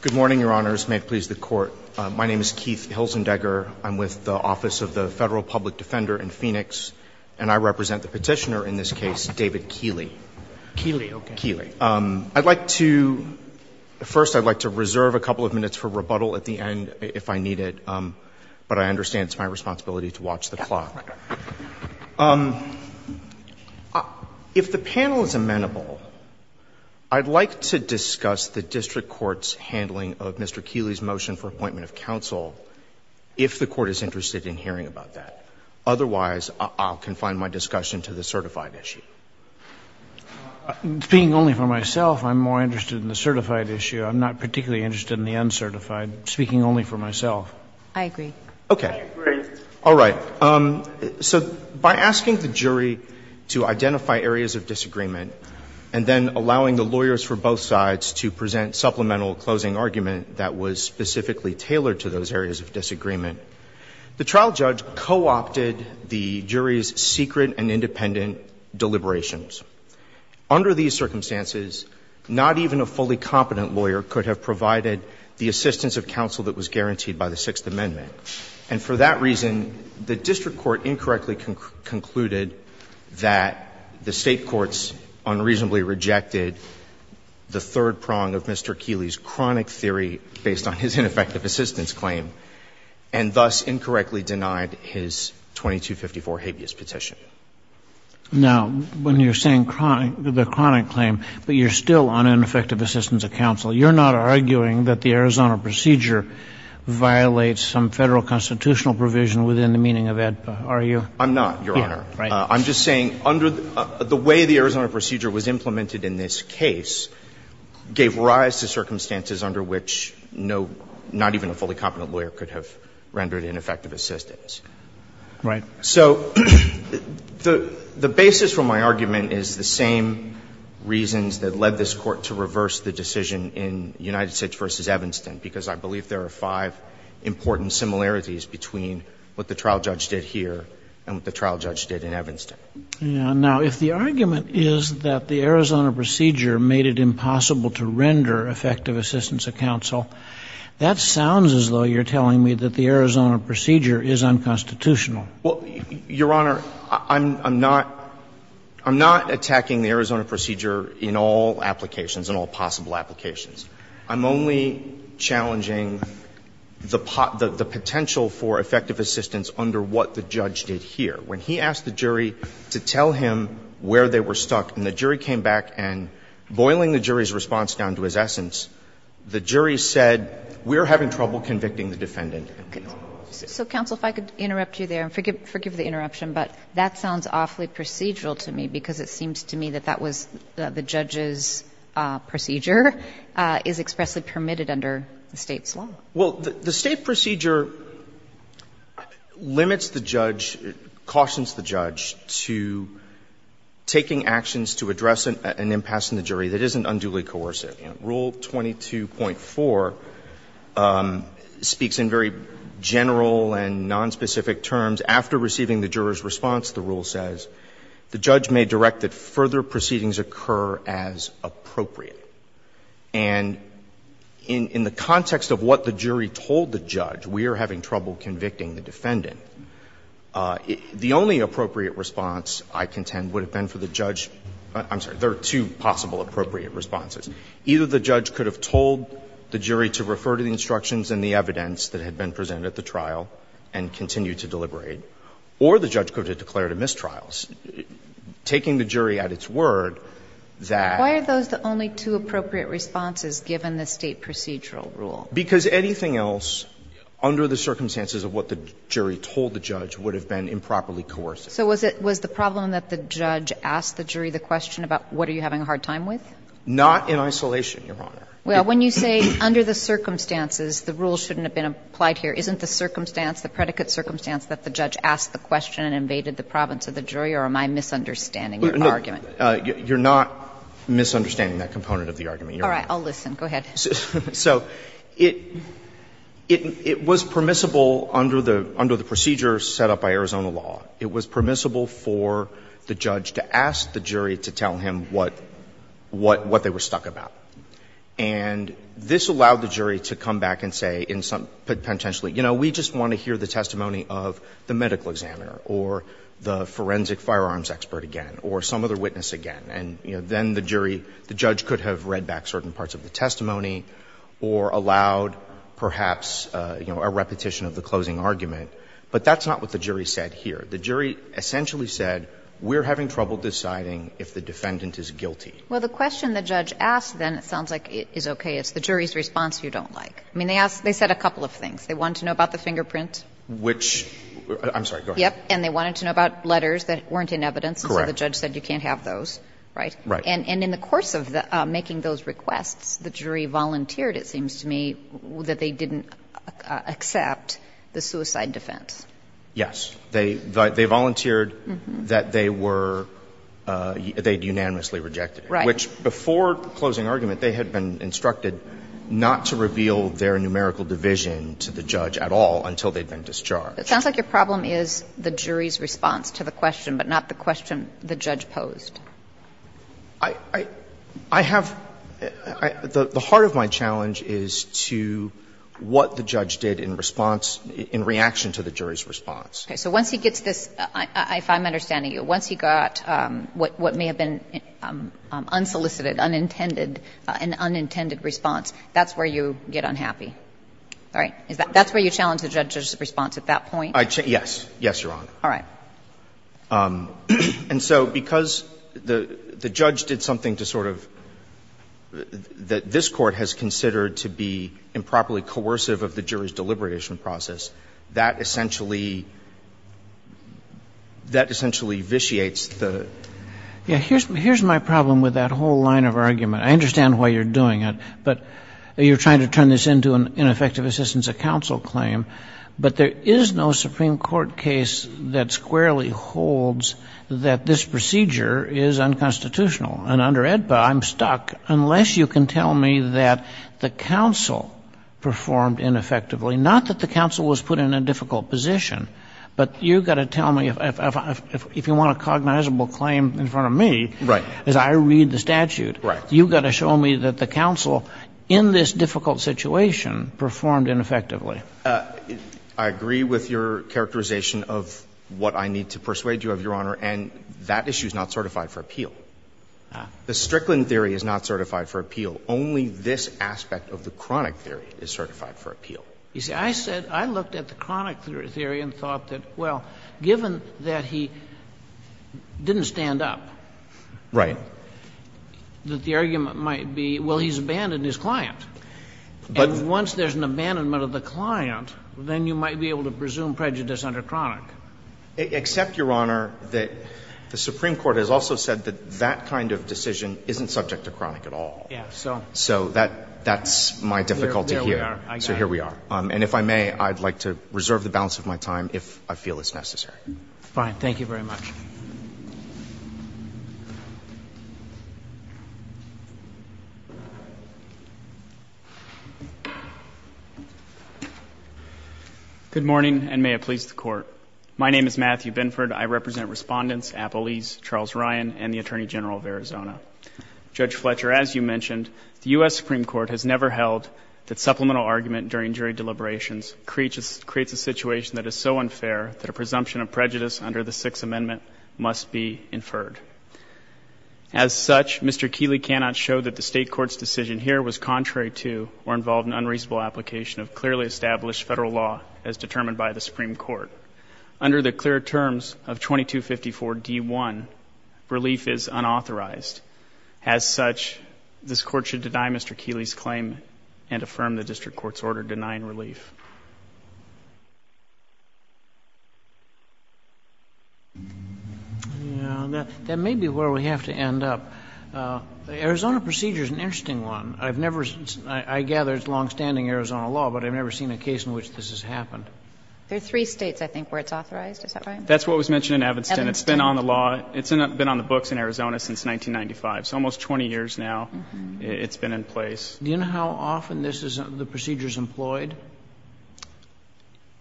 Good morning, Your Honors. May it please the Court. My name is Keith Hilzendegger. I'm with the Office of the Federal Public Defender in Phoenix, and I represent the petitioner in this case, David Kiehle. Kiehle, okay. Kiehle. I'd like to – first, I'd like to reserve a couple of minutes for rebuttal at the end if I need it, but I understand it's my responsibility to watch the clock. If the panel is amenable, I'd like to discuss the district court's handling of Mr. Kiehle's motion for appointment of counsel if the Court is interested in hearing about that. Otherwise, I'll confine my discussion to the certified issue. Speaking only for myself, I'm more interested in the certified issue. I'm not particularly interested in the uncertified. Speaking only for myself. I agree. Okay. I agree. All right. So by asking the jury to identify areas of disagreement and then allowing the lawyers for both sides to present supplemental closing argument that was specifically tailored to those areas of disagreement, the trial judge co-opted the jury's secret and independent deliberations. Under these circumstances, not even a fully competent lawyer could have provided the assistance of counsel that was guaranteed by the Sixth Amendment. And for that reason, the district court incorrectly concluded that the State courts unreasonably rejected the third prong of Mr. Kiehle's chronic theory based on his ineffective assistance claim, and thus incorrectly denied his 2254 habeas petition. Now, when you're saying the chronic claim, but you're still on ineffective assistance of counsel, you're not arguing that the Arizona procedure violates some Federal constitutional provision within the meaning of AEDPA, are you? I'm not, Your Honor. I'm just saying under the way the Arizona procedure was implemented in this case gave rise to circumstances under which no, not even a fully competent lawyer could have rendered ineffective assistance. Right. So the basis for my argument is the same reasons that led this Court to reverse the decision in United States v. Evanston, because I believe there are five important similarities between what the trial judge did here and what the trial judge did in Evanston. Now, if the argument is that the Arizona procedure made it impossible to render effective assistance of counsel, that sounds as though you're telling me that the Arizona procedure is unconstitutional. Well, Your Honor, I'm not attacking the Arizona procedure in all applications, in all possible applications. I'm only challenging the potential for effective assistance under what the judge did here. When he asked the jury to tell him where they were stuck, and the jury came back and, boiling the jury's response down to its essence, the jury said, we're having trouble convicting the defendant. So, counsel, if I could interrupt you there, and forgive the interruption, but that sounds awfully procedural to me, because it seems to me that that was the case. And I'm just wondering if that is expressly permitted under the State's law. Well, the State procedure limits the judge, cautions the judge to taking actions to address an impasse in the jury that isn't unduly coercive. Rule 22.4 speaks in very general and nonspecific terms. After receiving the juror's response, the rule says, the judge may direct that further proceedings occur as appropriate. And in the context of what the jury told the judge, we are having trouble convicting the defendant. The only appropriate response, I contend, would have been for the judge – I'm sorry, there are two possible appropriate responses. Either the judge could have told the jury to refer to the instructions and the evidence that had been presented at the trial and continue to deliberate, or the judge could have declared a mistrial. Taking the jury at its word, that – Why are those the only two appropriate responses, given the State procedural rule? Because anything else under the circumstances of what the jury told the judge would have been improperly coercive. So was it – was the problem that the judge asked the jury the question about, what are you having a hard time with? Not in isolation, Your Honor. Well, when you say, under the circumstances, the rule shouldn't have been applied here, isn't the circumstance, the predicate circumstance that the judge asked the question and invaded the province of the jury, or am I misunderstanding your argument? You're not misunderstanding that component of the argument, Your Honor. All right. I'll listen. Go ahead. So it – it was permissible under the – under the procedure set up by Arizona law. It was permissible for the judge to ask the jury to tell him what – what they were stuck about. And this allowed the jury to come back and say in some – potentially, you know, we just want to hear the testimony of the medical examiner or the forensic firearms expert again or some other witness again. And, you know, then the jury – the judge could have read back certain parts of the testimony or allowed perhaps, you know, a repetition of the closing argument. But that's not what the jury said here. The jury essentially said, we're having trouble deciding if the defendant is guilty. Well, the question the judge asked then sounds like it's okay. It's the jury's response you don't like. I mean, they asked – they said a couple of things. They wanted to know about the fingerprint. Which – I'm sorry. Go ahead. Yep. And they wanted to know about letters that weren't in evidence. Correct. So the judge said you can't have those, right? Right. And in the course of the – making those requests, the jury volunteered, it seems to me, that they didn't accept the suicide defense. Yes. They – they volunteered that they were – they'd unanimously rejected it. Right. Which before closing argument, they had been instructed not to reveal their numerical division to the judge at all until they'd been discharged. It sounds like your problem is the jury's response to the question, but not the question the judge posed. I have – the heart of my challenge is to what the judge did in response – in reaction to the jury's response. Okay. So once he gets this, if I'm understanding you, once he got what may have been unsolicited, unintended, an unintended response, that's where you get unhappy. All right. Is that – that's where you challenge the judge's response at that point? I – yes. Yes, Your Honor. All right. And so because the judge did something to sort of – that this Court has considered to be improperly coercive of the jury's deliberation process, that essentially – that essentially vitiates the – Yeah. Here's my problem with that whole line of argument. I understand why you're doing it, but you're trying to turn this into an ineffective assistance of counsel claim, but there is no Supreme Court case that squarely holds that this procedure is unconstitutional. And under AEDPA, I'm stuck unless you can tell me that the counsel performed ineffectively. Not that the counsel was put in a difficult position, but you've got to tell me if you want a cognizable claim in front of me as I read the statute. Right. You've got to show me that the counsel in this difficult situation performed ineffectively. I agree with your characterization of what I need to persuade you of, Your Honor, and that issue is not certified for appeal. Ah. The Strickland theory is not certified for appeal. Only this aspect of the chronic theory is certified for appeal. You see, I said – I looked at the chronic theory and thought that, well, given that he didn't stand up – Right. That the argument might be, well, he's abandoned his client. But once there's an abandonment of the client, then you might be able to presume prejudice under chronic. Except, Your Honor, that the Supreme Court has also said that that kind of decision isn't subject to chronic at all. Yes. So that's my difficulty here. So here we are. And if I may, I'd like to reserve the balance of my time if I feel it's necessary. Fine. Thank you very much. Good morning, and may it please the Court. My name is Matthew Binford. I represent Respondents Appelese, Charles Ryan, and the Attorney General of Arizona. Judge Fletcher, as you mentioned, the U.S. Supreme Court has never held that supplemental argument during jury deliberations creates a situation that is so unfair that a presumption of prejudice under the Sixth Amendment must be inferred. As such, Mr. Keeley cannot show that the State Court's decision here was contrary to or involved in unreasonable application of clearly established federal law as determined by the Supreme Court. Under the clear terms of 2254d1, relief is unauthorized. As such, this Court should deny Mr. Keeley's claim and affirm the District Court's order to deny and relief. That may be where we have to end up. Arizona procedure is an interesting one. I've never seen, I gather it's long-standing Arizona law, but I've never seen a case in which this has happened. There are three States, I think, where it's authorized, is that right? That's what was mentioned in Evanston. Evanston. It's been on the law. It's been on the books in Arizona since 1995, so almost 20 years now it's been in place. Do you know how often this is, the procedure is employed?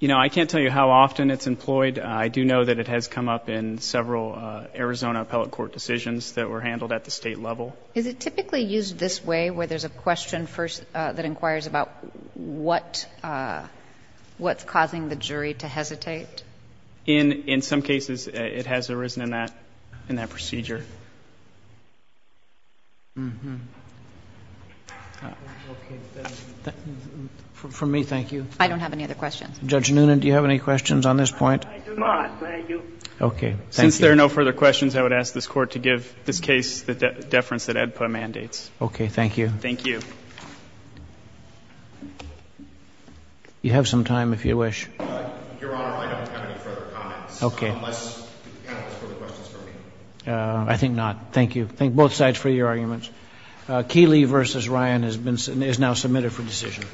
You know, I can't tell you how often it's employed. I do know that it has come up in several Arizona appellate court decisions that were handled at the State level. Is it typically used this way, where there's a question first that inquires about what, what's causing the jury to hesitate? In some cases, it has arisen in that procedure. For me, thank you. I don't have any other questions. Judge Noonan, do you have any questions on this point? I do not. Thank you. Okay, thank you. Since there are no further questions, I would ask this Court to give this case the deference that EDPA mandates. Okay, thank you. Thank you. You have some time, if you wish. I don't have any further questions, Your Honor. I think not. Thank you. Thank both sides for your arguments. Keeley v. Ryan is now submitted for decision.